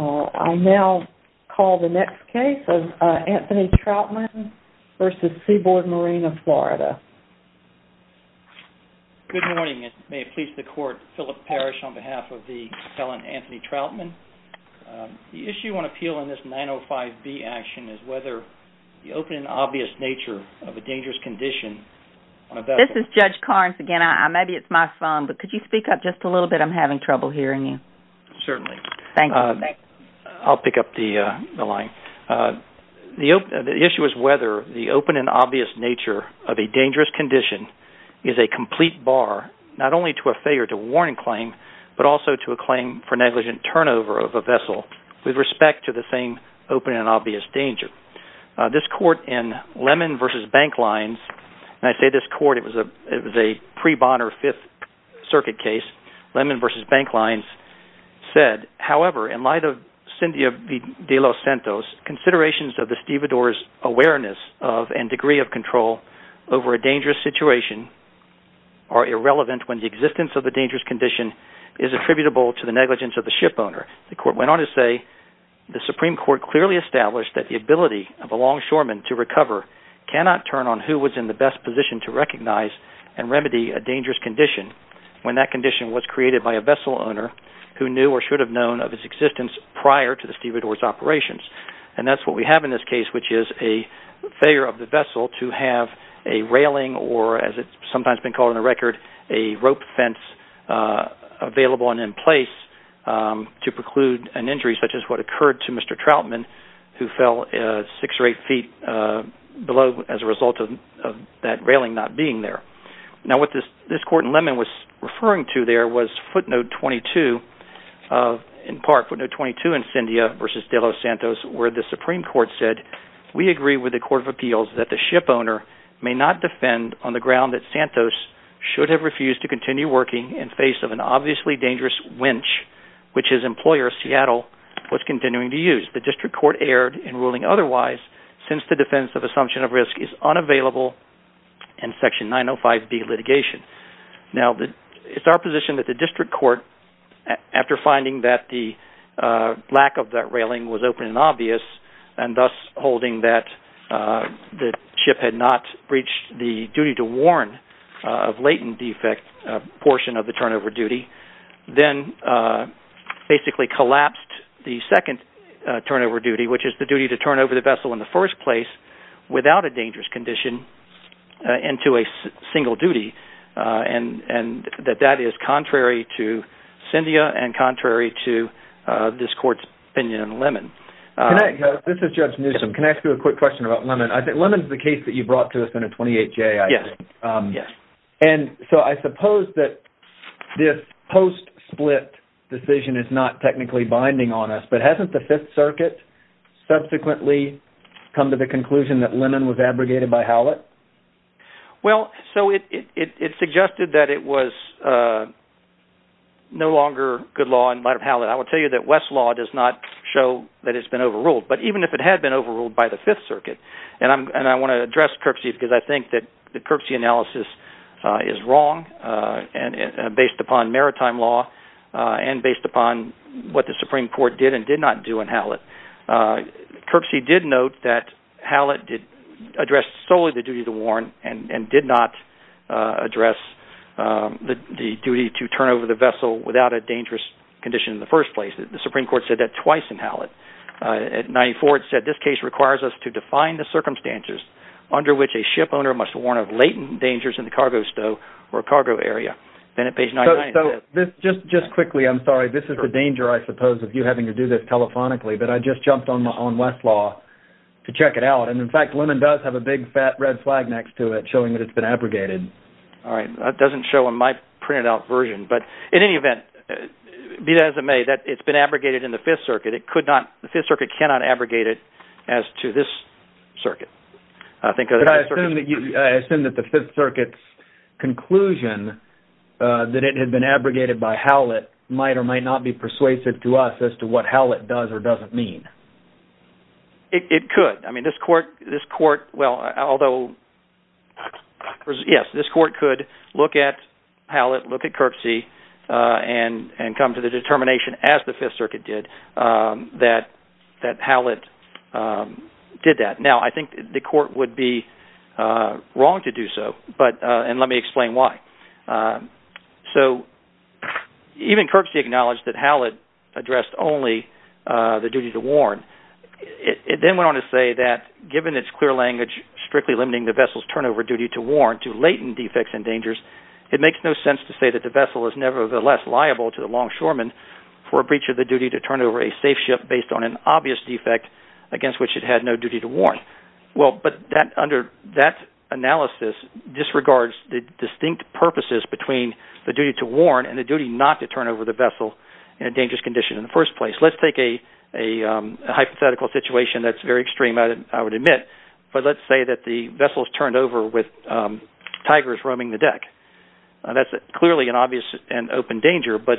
I now call the next case of Anthony Troutman v. Seaboard Marine of Florida. Good morning. May it please the Court, Philip Parrish on behalf of the appellant, Anthony Troutman. The issue on appeal in this 905B action is whether the open and obvious nature of a dangerous condition on a bed... This is Judge Carnes again. Maybe it's my phone, but could you speak up just a little bit? I'm having trouble hearing you. Certainly. Thank you. I'll pick up the line. The issue is whether the open and obvious nature of a dangerous condition is a complete bar not only to a failure to warning claim, but also to a claim for negligent turnover of a vessel with respect to the same open and obvious danger. This court in Lemon v. Bank Lines, and I say this court, it was a pre-Bonner Fifth Circuit case, Lemon v. Bank Lines said, however, in light of Cindy de los Santos, considerations of the stevedore's awareness of and degree of control over a dangerous situation are irrelevant when the existence of the dangerous condition is attributable to the negligence of the shipowner. The court went on to say, the Supreme Court clearly established that the ability of a longshoreman to recover cannot turn on who was in the best position to recognize and remedy a dangerous condition when that condition was created by a vessel owner who knew or should have known of its existence prior to the stevedore's operations. And that's what we have in this case, which is a failure of the vessel to have a railing, or as it's sometimes been called on the record, a rope fence available and in place to preclude an injury such as what occurred to Mr. Troutman who fell six or eight feet below as a result of that railing not being there. Now what this court in Lemon was referring to there was footnote 22, in part footnote 22 in Cyndia v. de los Santos, where the Supreme Court said, we agree with the Court of Appeals that the shipowner may not defend on the ground that Santos should have refused to continue working in face of an obviously dangerous winch, which his employer, Seattle, was continuing to use. The district court erred in ruling otherwise since the defense of assumption of risk is unavailable in section 905B litigation. Now it's our position that the district court, after finding that the lack of that railing was open and obvious and thus holding that the ship had not breached the duty to warn of latent defect portion of the turnover duty, then basically collapsed the second turnover duty, which is the duty to turn over the vessel in the first place without a dangerous condition into a single duty and that that is contrary to Cyndia and contrary to this court's opinion in Lemon. This is Judge Newsom. Can I ask you a quick question about Lemon? I think Lemon is the case that you brought to us in a 28-J, I think. Yes. And so I suppose that this post-split decision is not technically binding on us, but hasn't the Fifth Circuit subsequently come to the conclusion that Lemon was abrogated by Howlett? Well, so it suggested that it was no longer good law in light of Howlett. I will tell you that West's law does not show that it's been overruled, but even if it had been overruled by the Fifth Circuit, and I want to address Kirksey because I think that the Kirksey analysis is wrong based upon maritime law and based upon what the Supreme Court did and did not do in Howlett. Kirksey did note that Howlett addressed solely the duty to warn and did not address the duty to turn over the vessel without a dangerous condition in the first place. The Supreme Court said that twice in Howlett. At 94, it said, this case requires us to define the circumstances under which a ship owner must warn of latent dangers in the cargo stow or cargo area. Then at page 99… So just quickly, I'm sorry. This is the danger, I suppose, of you having to do this telephonically, but I just jumped on West's law to check it out, and in fact, Lemon does have a big fat red flag next to it showing that it's been abrogated. All right. That doesn't show in my printed out version, but in any event, be that as it may, it's been abrogated in the Fifth Circuit. The Fifth Circuit cannot abrogate it as to this circuit. But I assume that the Fifth Circuit's conclusion that it had been abrogated by Howlett might or might not be persuasive to us as to what Howlett does or doesn't mean. It could. I mean this court, well, although yes, this court could look at Howlett, look at Kirksey, and come to the determination as the Fifth Circuit did that Howlett did that. Now I think the court would be wrong to do so, and let me explain why. So even Kirksey acknowledged that Howlett addressed only the duty to warn. It then went on to say that given its clear language strictly limiting the vessel's turnover duty to warn to latent defects and dangers, it makes no sense to say that the vessel is nevertheless liable to the longshoremen for a breach of the duty to turn over a safe ship based on an obvious defect against which it had no duty to warn. Well, but that analysis disregards the distinct purposes between the duty to warn and the duty not to turn over the vessel in a dangerous condition in the first place. Let's take a hypothetical situation that's very extreme I would admit, but let's say that the vessel is turned over with tigers roaming the deck. That's clearly an obvious and open danger, but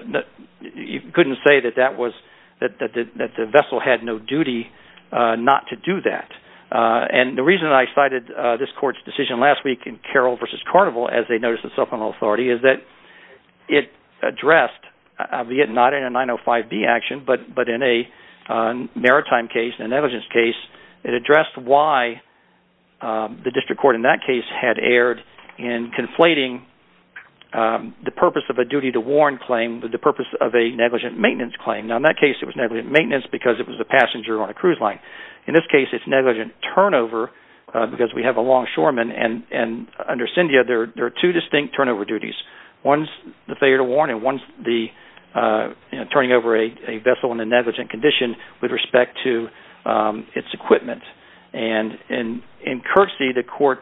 you couldn't say that the vessel had no duty not to do that. And the reason I cited this court's decision last week in Carroll v. Carnival as they noticed itself on all authority is that it addressed, albeit not in a 905B action, but in a maritime case, a negligence case, it addressed why the district court in that case had erred in conflating the purpose of a duty to warn claim with the purpose of a negligent maintenance claim. Now in that case it was negligent maintenance because it was a passenger on a cruise line. In this case it's negligent turnover because we have a longshoreman, and under CINDIA there are two distinct turnover duties. One's the failure to warn and one's the turning over a vessel in a negligent condition with respect to its equipment. And in curtsy the court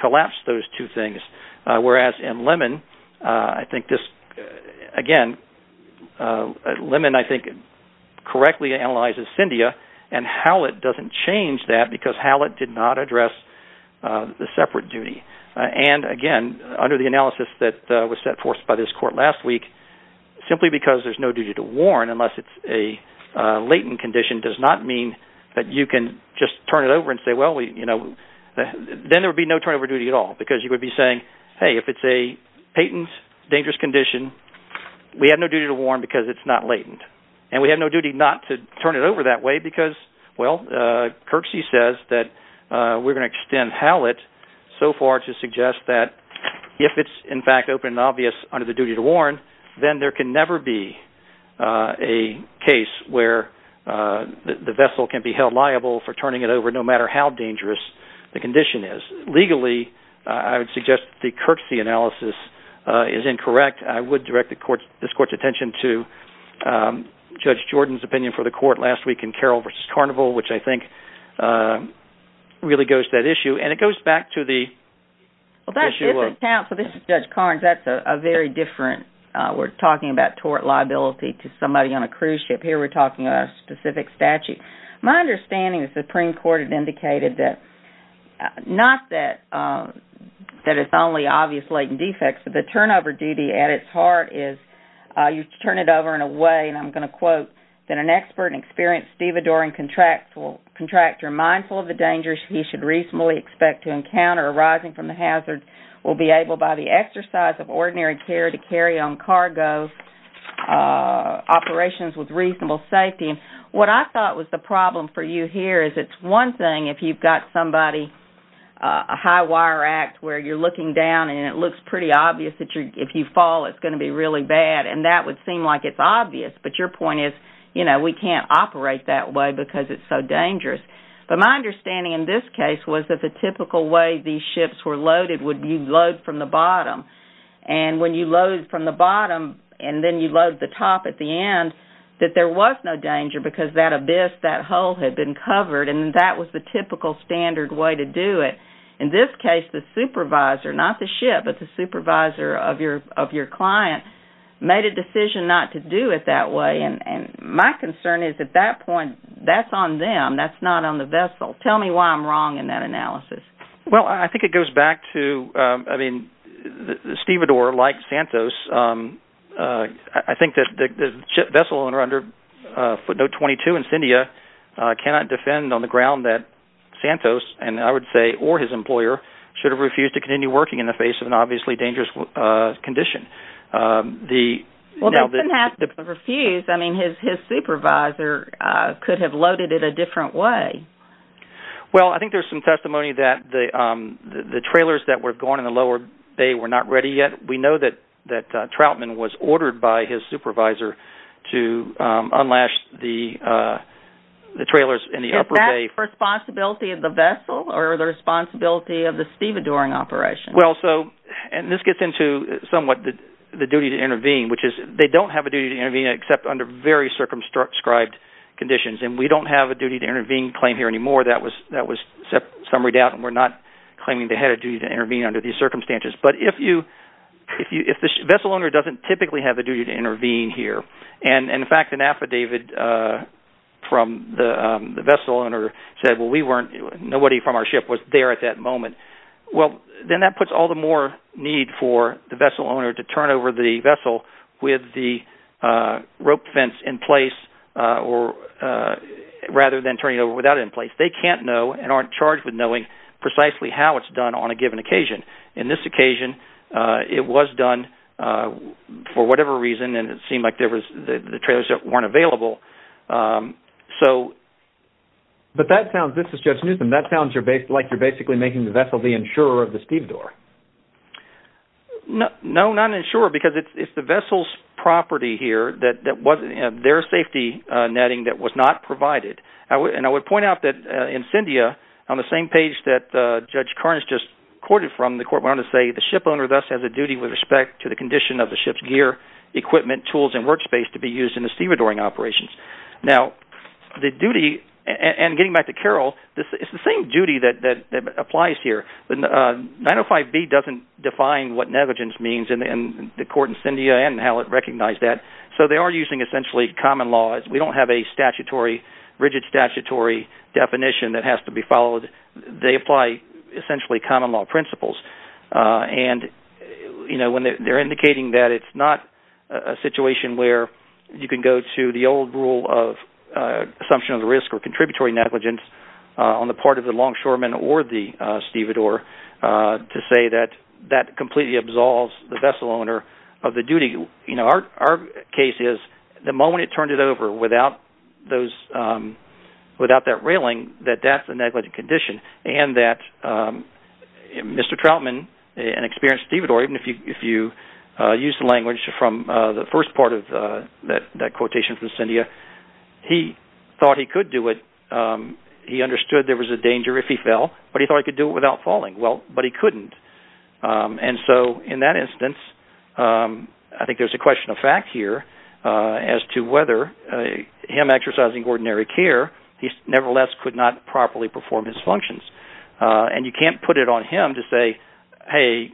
collapsed those two things, whereas in Lemon I think this, again, Lemon I think correctly analyzes CINDIA and Hallett doesn't change that because Hallett did not address the separate duty. And again, under the analysis that was set forth by this court last week, simply because there's no duty to warn unless it's a latent condition does not mean that you can just turn it over and say, well, then there would be no turnover duty at all because you would be saying, hey, if it's a patent dangerous condition we have no duty to warn because it's not latent. And we have no duty not to turn it over that way because, well, curtsy says that we're going to extend Hallett so far to suggest that if it's in fact open and obvious under the duty to warn, then there can never be a case where the vessel can be held liable for turning it over no matter how dangerous the condition is. Legally I would suggest the curtsy analysis is incorrect. In fact, I would direct this court's attention to Judge Jordan's opinion for the court last week in Carroll v. Carnival, which I think really goes to that issue. And it goes back to the – Well, that's a different account. So this is Judge Carnes. That's a very different – we're talking about tort liability to somebody on a cruise ship. Here we're talking about a specific statute. My understanding is the Supreme Court had indicated that – not that it's only obvious latent defects, but the turnover duty at its heart is you turn it over in a way, and I'm going to quote, that an expert and experienced stevedoring contractor mindful of the dangers he should reasonably expect to encounter arising from the hazard will be able by the exercise of ordinary care to carry on cargo operations with reasonable safety. What I thought was the problem for you here is it's one thing if you've got somebody, a high wire act, where you're looking down and it looks pretty obvious that if you fall it's going to be really bad, and that would seem like it's obvious. But your point is, you know, we can't operate that way because it's so dangerous. But my understanding in this case was that the typical way these ships were loaded would be load from the bottom. And when you load from the bottom and then you load the top at the end, that there was no danger because that abyss, that hole had been covered, and that was the typical standard way to do it. In this case, the supervisor, not the ship, but the supervisor of your client made a decision not to do it that way, and my concern is at that point that's on them, that's not on the vessel. Tell me why I'm wrong in that analysis. Well, I think it goes back to, I mean, the stevedore, like Santos, I think that the vessel owner under footnote 22 in Cyndia cannot defend on the ground that Santos, and I would say or his employer, should have refused to continue working in the face of an obviously dangerous condition. Well, they didn't have to refuse. I mean, his supervisor could have loaded it a different way. Well, I think there's some testimony that the trailers that were going in the lower bay were not ready yet. We know that Troutman was ordered by his supervisor to unlash the trailers in the upper bay. Responsibility of the vessel or the responsibility of the stevedoring operation? Well, so, and this gets into somewhat the duty to intervene, which is they don't have a duty to intervene except under very circumscribed conditions, and we don't have a duty to intervene claim here anymore. That was summaried out, and we're not claiming they had a duty to intervene under these circumstances, but if the vessel owner doesn't typically have a duty to intervene here, and, in fact, an affidavit from the vessel owner said, well, nobody from our ship was there at that moment, well, then that puts all the more need for the vessel owner to turn over the vessel with the rope fence in place rather than turn it over without it in place. They can't know and aren't charged with knowing precisely how it's done on a given occasion. In this occasion, it was done for whatever reason, and it seemed like the trailers weren't available. But that sounds, this is Judge Newtham, that sounds like you're basically making the vessel the insurer of the stevedore. No, not insurer, because it's the vessel's property here, their safety netting that was not provided. And I would point out that in Cyndia, on the same page that Judge Carnes just quoted from, the court went on to say the ship owner thus has a duty with respect to the condition of the ship's gear, equipment, tools, and workspace to be used in the stevedoring operations. Now, the duty, and getting back to Carol, it's the same duty that applies here. 905B doesn't define what negligence means in the court in Cyndia and how it recognized that, so they are using essentially common law. We don't have a rigid statutory definition that has to be followed. They apply essentially common law principles. And they're indicating that it's not a situation where you can go to the old rule of assumption of risk or contributory negligence on the part of the longshoreman or the stevedore to say that that completely absolves the vessel owner of the duty. Our case is the moment it turned it over without that railing, that that's a negligent condition. And that Mr. Troutman, an experienced stevedore, even if you use the language from the first part of that quotation from Cyndia, he thought he could do it. He understood there was a danger if he fell, but he thought he could do it without falling. Well, but he couldn't. And so in that instance, I think there's a question of fact here as to whether him exercising ordinary care, he nevertheless could not properly perform his functions. And you can't put it on him to say, hey,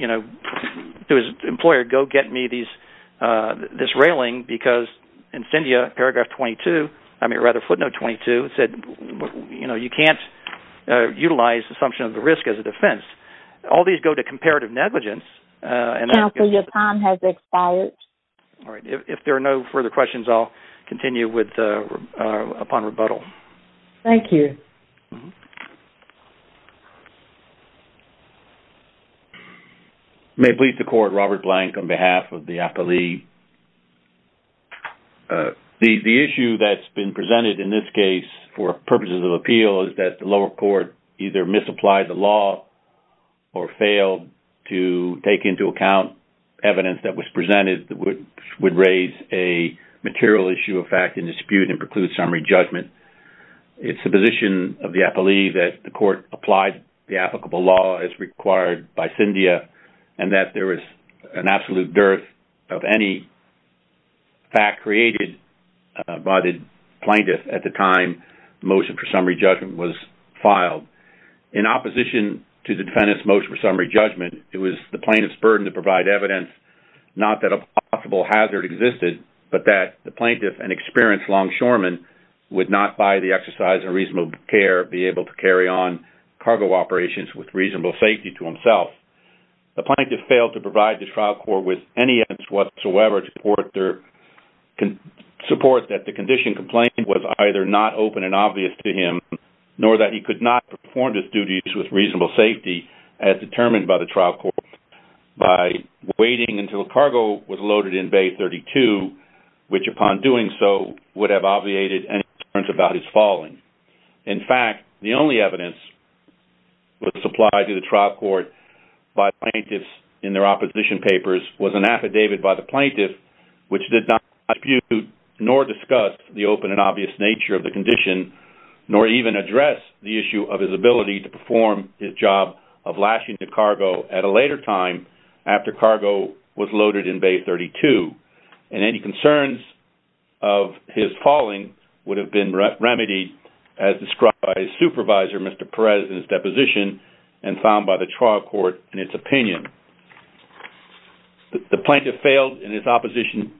to his employer, go get me this railing because in Cyndia, paragraph 22, I mean rather footnote 22, it said you can't utilize the assumption of the risk as a defense. All these go to comparative negligence. Counsel, your time has expired. All right. If there are no further questions, I'll continue upon rebuttal. Thank you. May it please the Court, Robert Blank on behalf of the appellee. The issue that's been presented in this case for purposes of appeal is that the lower court either misapplied the law or failed to take into account evidence that was presented that would raise a material issue of fact in dispute and preclude summary judgment. It's the position of the appellee that the court applied the applicable law as required by Cyndia and that there is an absolute dearth of any fact created by the plaintiff at the time the motion for summary judgment was filed. In opposition to the defendant's motion for summary judgment, it was the plaintiff's burden to provide evidence not that a possible hazard existed, but that the plaintiff, an experienced longshoreman, would not, by the exercise of reasonable care, be able to carry on cargo operations with reasonable safety to himself. The plaintiff failed to provide the trial court with any evidence whatsoever to support that the condition complained was either not open and obvious to him nor that he could not perform his duties with reasonable safety as determined by the trial court by waiting until cargo was loaded in Bay 32, which upon doing so would have obviated any concerns about his falling. In fact, the only evidence that was supplied to the trial court by plaintiffs in their opposition papers was an affidavit by the plaintiff which did not dispute nor discuss the open and obvious nature of the condition nor even address the issue of his ability to perform his job of lashing the cargo at a later time after cargo was loaded in Bay 32. And any concerns of his falling would have been remedied as described by his supervisor, Mr. Perez, in his deposition and found by the trial court in its opinion. The plaintiff failed in its opposition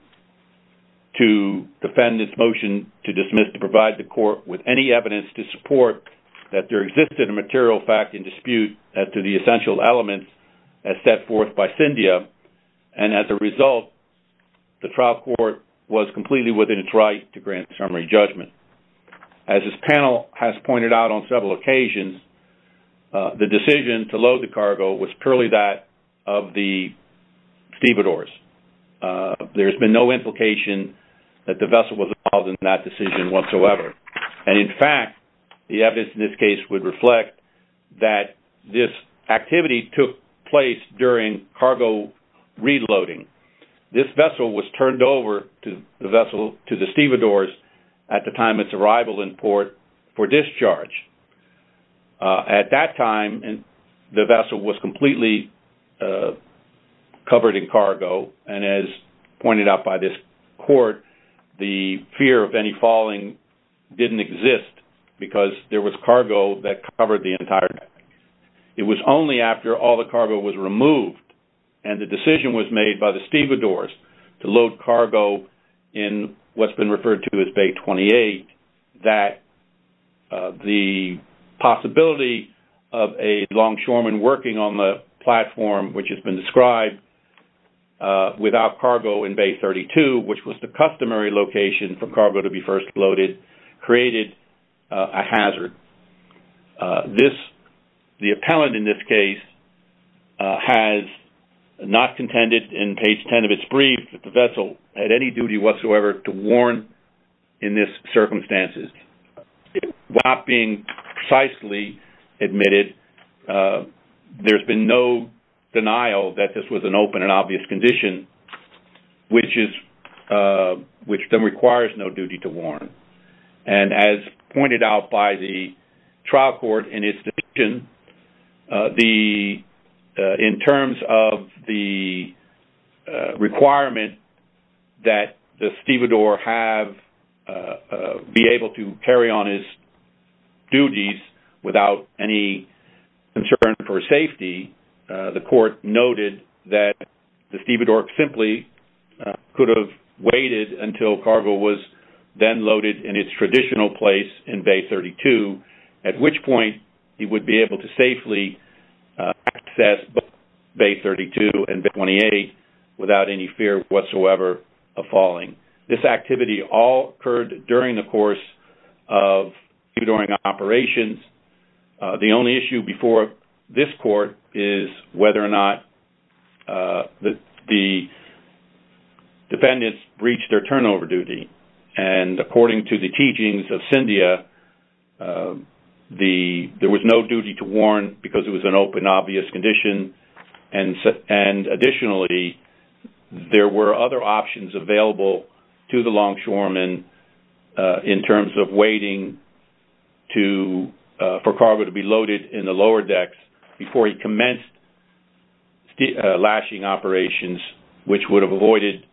to defend its motion to dismiss to provide the court with any evidence to support that there existed a material fact in dispute as to the essential elements as set forth by Cyndia. And as a result, the trial court was completely within its right to grant summary judgment. As this panel has pointed out on several occasions, the decision to load the cargo was purely that of the stevedores. There's been no implication that the vessel was involved in that decision whatsoever. And in fact, the evidence in this case would reflect that this activity took place during cargo reloading. This vessel was turned over to the stevedores at the time of its arrival in port for discharge. At that time, the vessel was completely covered in cargo. And as pointed out by this court, the fear of any falling didn't exist because there was cargo that covered the entire vessel. It was only after all the cargo was removed and the decision was made by the stevedores to load cargo in what's been referred to as Bay 28 that the possibility of a longshoreman working on the platform which has been described without cargo in Bay 32, which was the customary location for cargo to be first loaded, created a hazard. The appellant in this case has not contended in page 10 of its brief that the vessel had any duty whatsoever to warn in this circumstances. Without being precisely admitted, there's been no denial that this was an open and obvious condition which then requires no duty to warn. And as pointed out by the trial court in its decision, in terms of the requirement that the stevedore be able to carry on his duties without any concern for safety, the court noted that the stevedore simply could have waited until cargo was then loaded in its traditional place in Bay 32, at which point he would be able to safely access both Bay 32 and Bay 28 without any fear whatsoever of falling. This activity all occurred during the course of stevedoring operations. The only issue before this court is whether or not the defendants reached their turnover duty. And according to the teachings of Cyndia, there was no duty to warn because it was an open, obvious condition. And additionally, there were other options available to the longshoreman in terms of waiting for cargo to be loaded in the lower decks before he commenced lashing operations, which would have avoided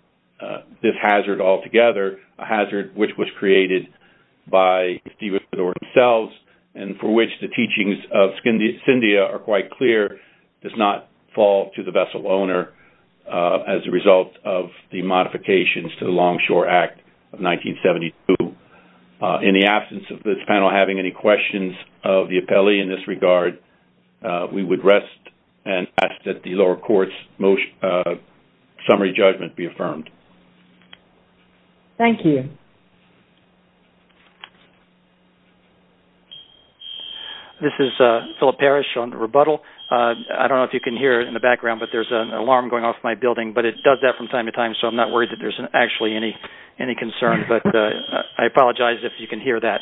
this hazard altogether, a hazard which was created by the stevedore himself, and for which the teachings of Cyndia are quite clear, does not fall to the vessel owner as a result of the modifications to the Longshore Act of 1972. In the absence of this panel having any questions of the appellee in this regard, we would rest and ask that the lower court's summary judgment be affirmed. Thank you. This is Philip Parrish on the rebuttal. I don't know if you can hear it in the background, but there's an alarm going off in my building, but it does that from time to time, so I'm not worried that there's actually any concern. But I apologize if you can hear that.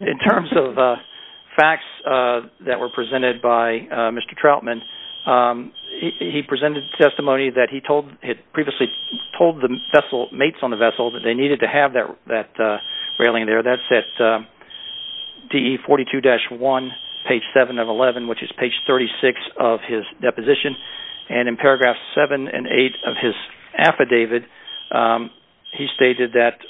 In terms of facts that were presented by Mr. Troutman, he presented testimony that he had previously told the mates on the vessel that they needed to have that railing there. That's at DE 42-1, page 7 of 11, which is page 36 of his deposition. And in paragraphs 7 and 8 of his affidavit, he stated that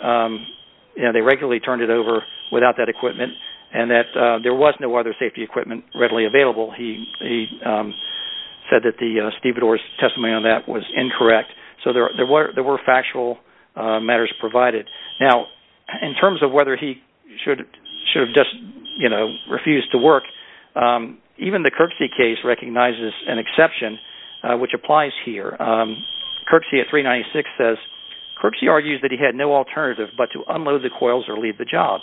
they regularly turned it over without that equipment, and that there was no other safety equipment readily available. He said that the stevedore's testimony on that was incorrect, so there were factual matters provided. Now, in terms of whether he should have just refused to work, even the Kirksey case recognizes an exception, which applies here. Kirksey at 396 says, Kirksey argues that he had no alternative but to unload the coils or leave the job.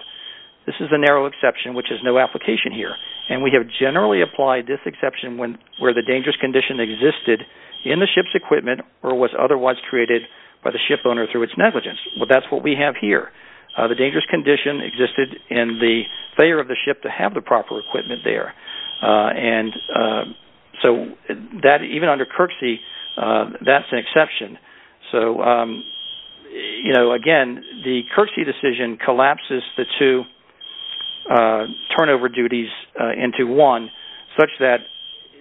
This is a narrow exception, which is no application here, and we have generally applied this exception where the dangerous condition existed in the ship's equipment or was otherwise created by the shipowner through its negligence. But that's what we have here. The dangerous condition existed in the failure of the ship to have the proper equipment there. And so even under Kirksey, that's an exception. So, you know, again, the Kirksey decision collapses the two turnover duties into one, such that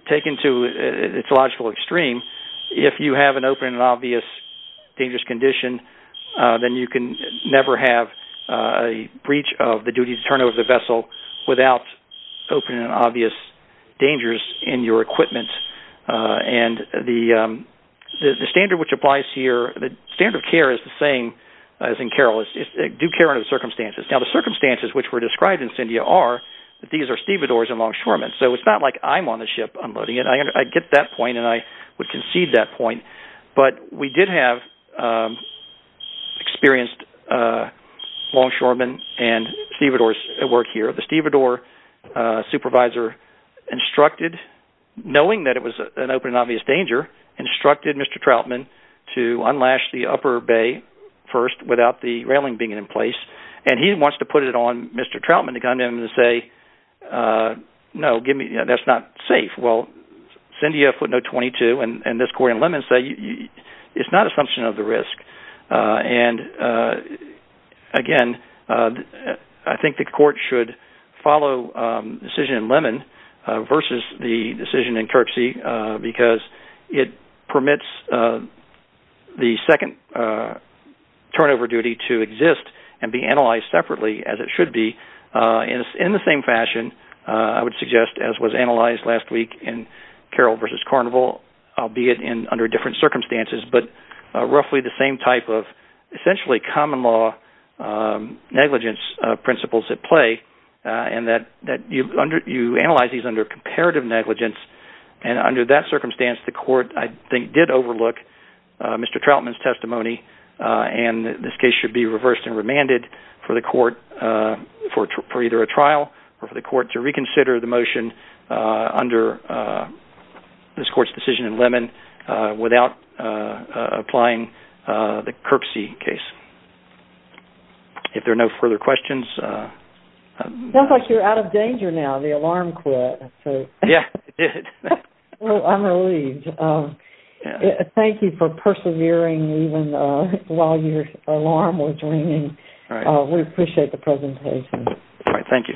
taken to its logical extreme, if you have an open and obvious dangerous condition, then you can never have a breach of the duty to turn over the vessel without open and obvious dangers in your equipment. And the standard which applies here, the standard of care is the same as in Carroll, is do care under the circumstances. Now, the circumstances which were described in Cyndia are that these are stevedores and longshoremen, so it's not like I'm on the ship unloading it. I get that point, and I would concede that point. But we did have experienced longshoremen and stevedores at work here. The stevedore supervisor instructed, knowing that it was an open and obvious danger, instructed Mr. Troutman to unlash the upper bay first without the railing being in place. And he wants to put it on Mr. Troutman to come in and say, no, that's not safe. Well, Cyndia put no 22, and this court in Lemon say it's not an assumption of the risk. And, again, I think the court should follow the decision in Lemon versus the decision in Kirksey because it permits the second turnover duty to exist and be analyzed separately as it should be in the same fashion, I would suggest, as was analyzed last week in Carroll versus Carnival, albeit under different circumstances, but roughly the same type of essentially common law negligence principles at play, and that you analyze these under comparative negligence. And under that circumstance, the court, I think, did overlook Mr. Troutman's testimony, and this case should be reversed and remanded for either a trial or for the court to reconsider the motion under this court's decision in Lemon without applying the Kirksey case. If there are no further questions... It sounds like you're out of danger now. The alarm quit. Yeah, it did. Well, I'm relieved. Thank you for persevering even while your alarm was ringing. All right. We appreciate the presentation. All right. Thank you.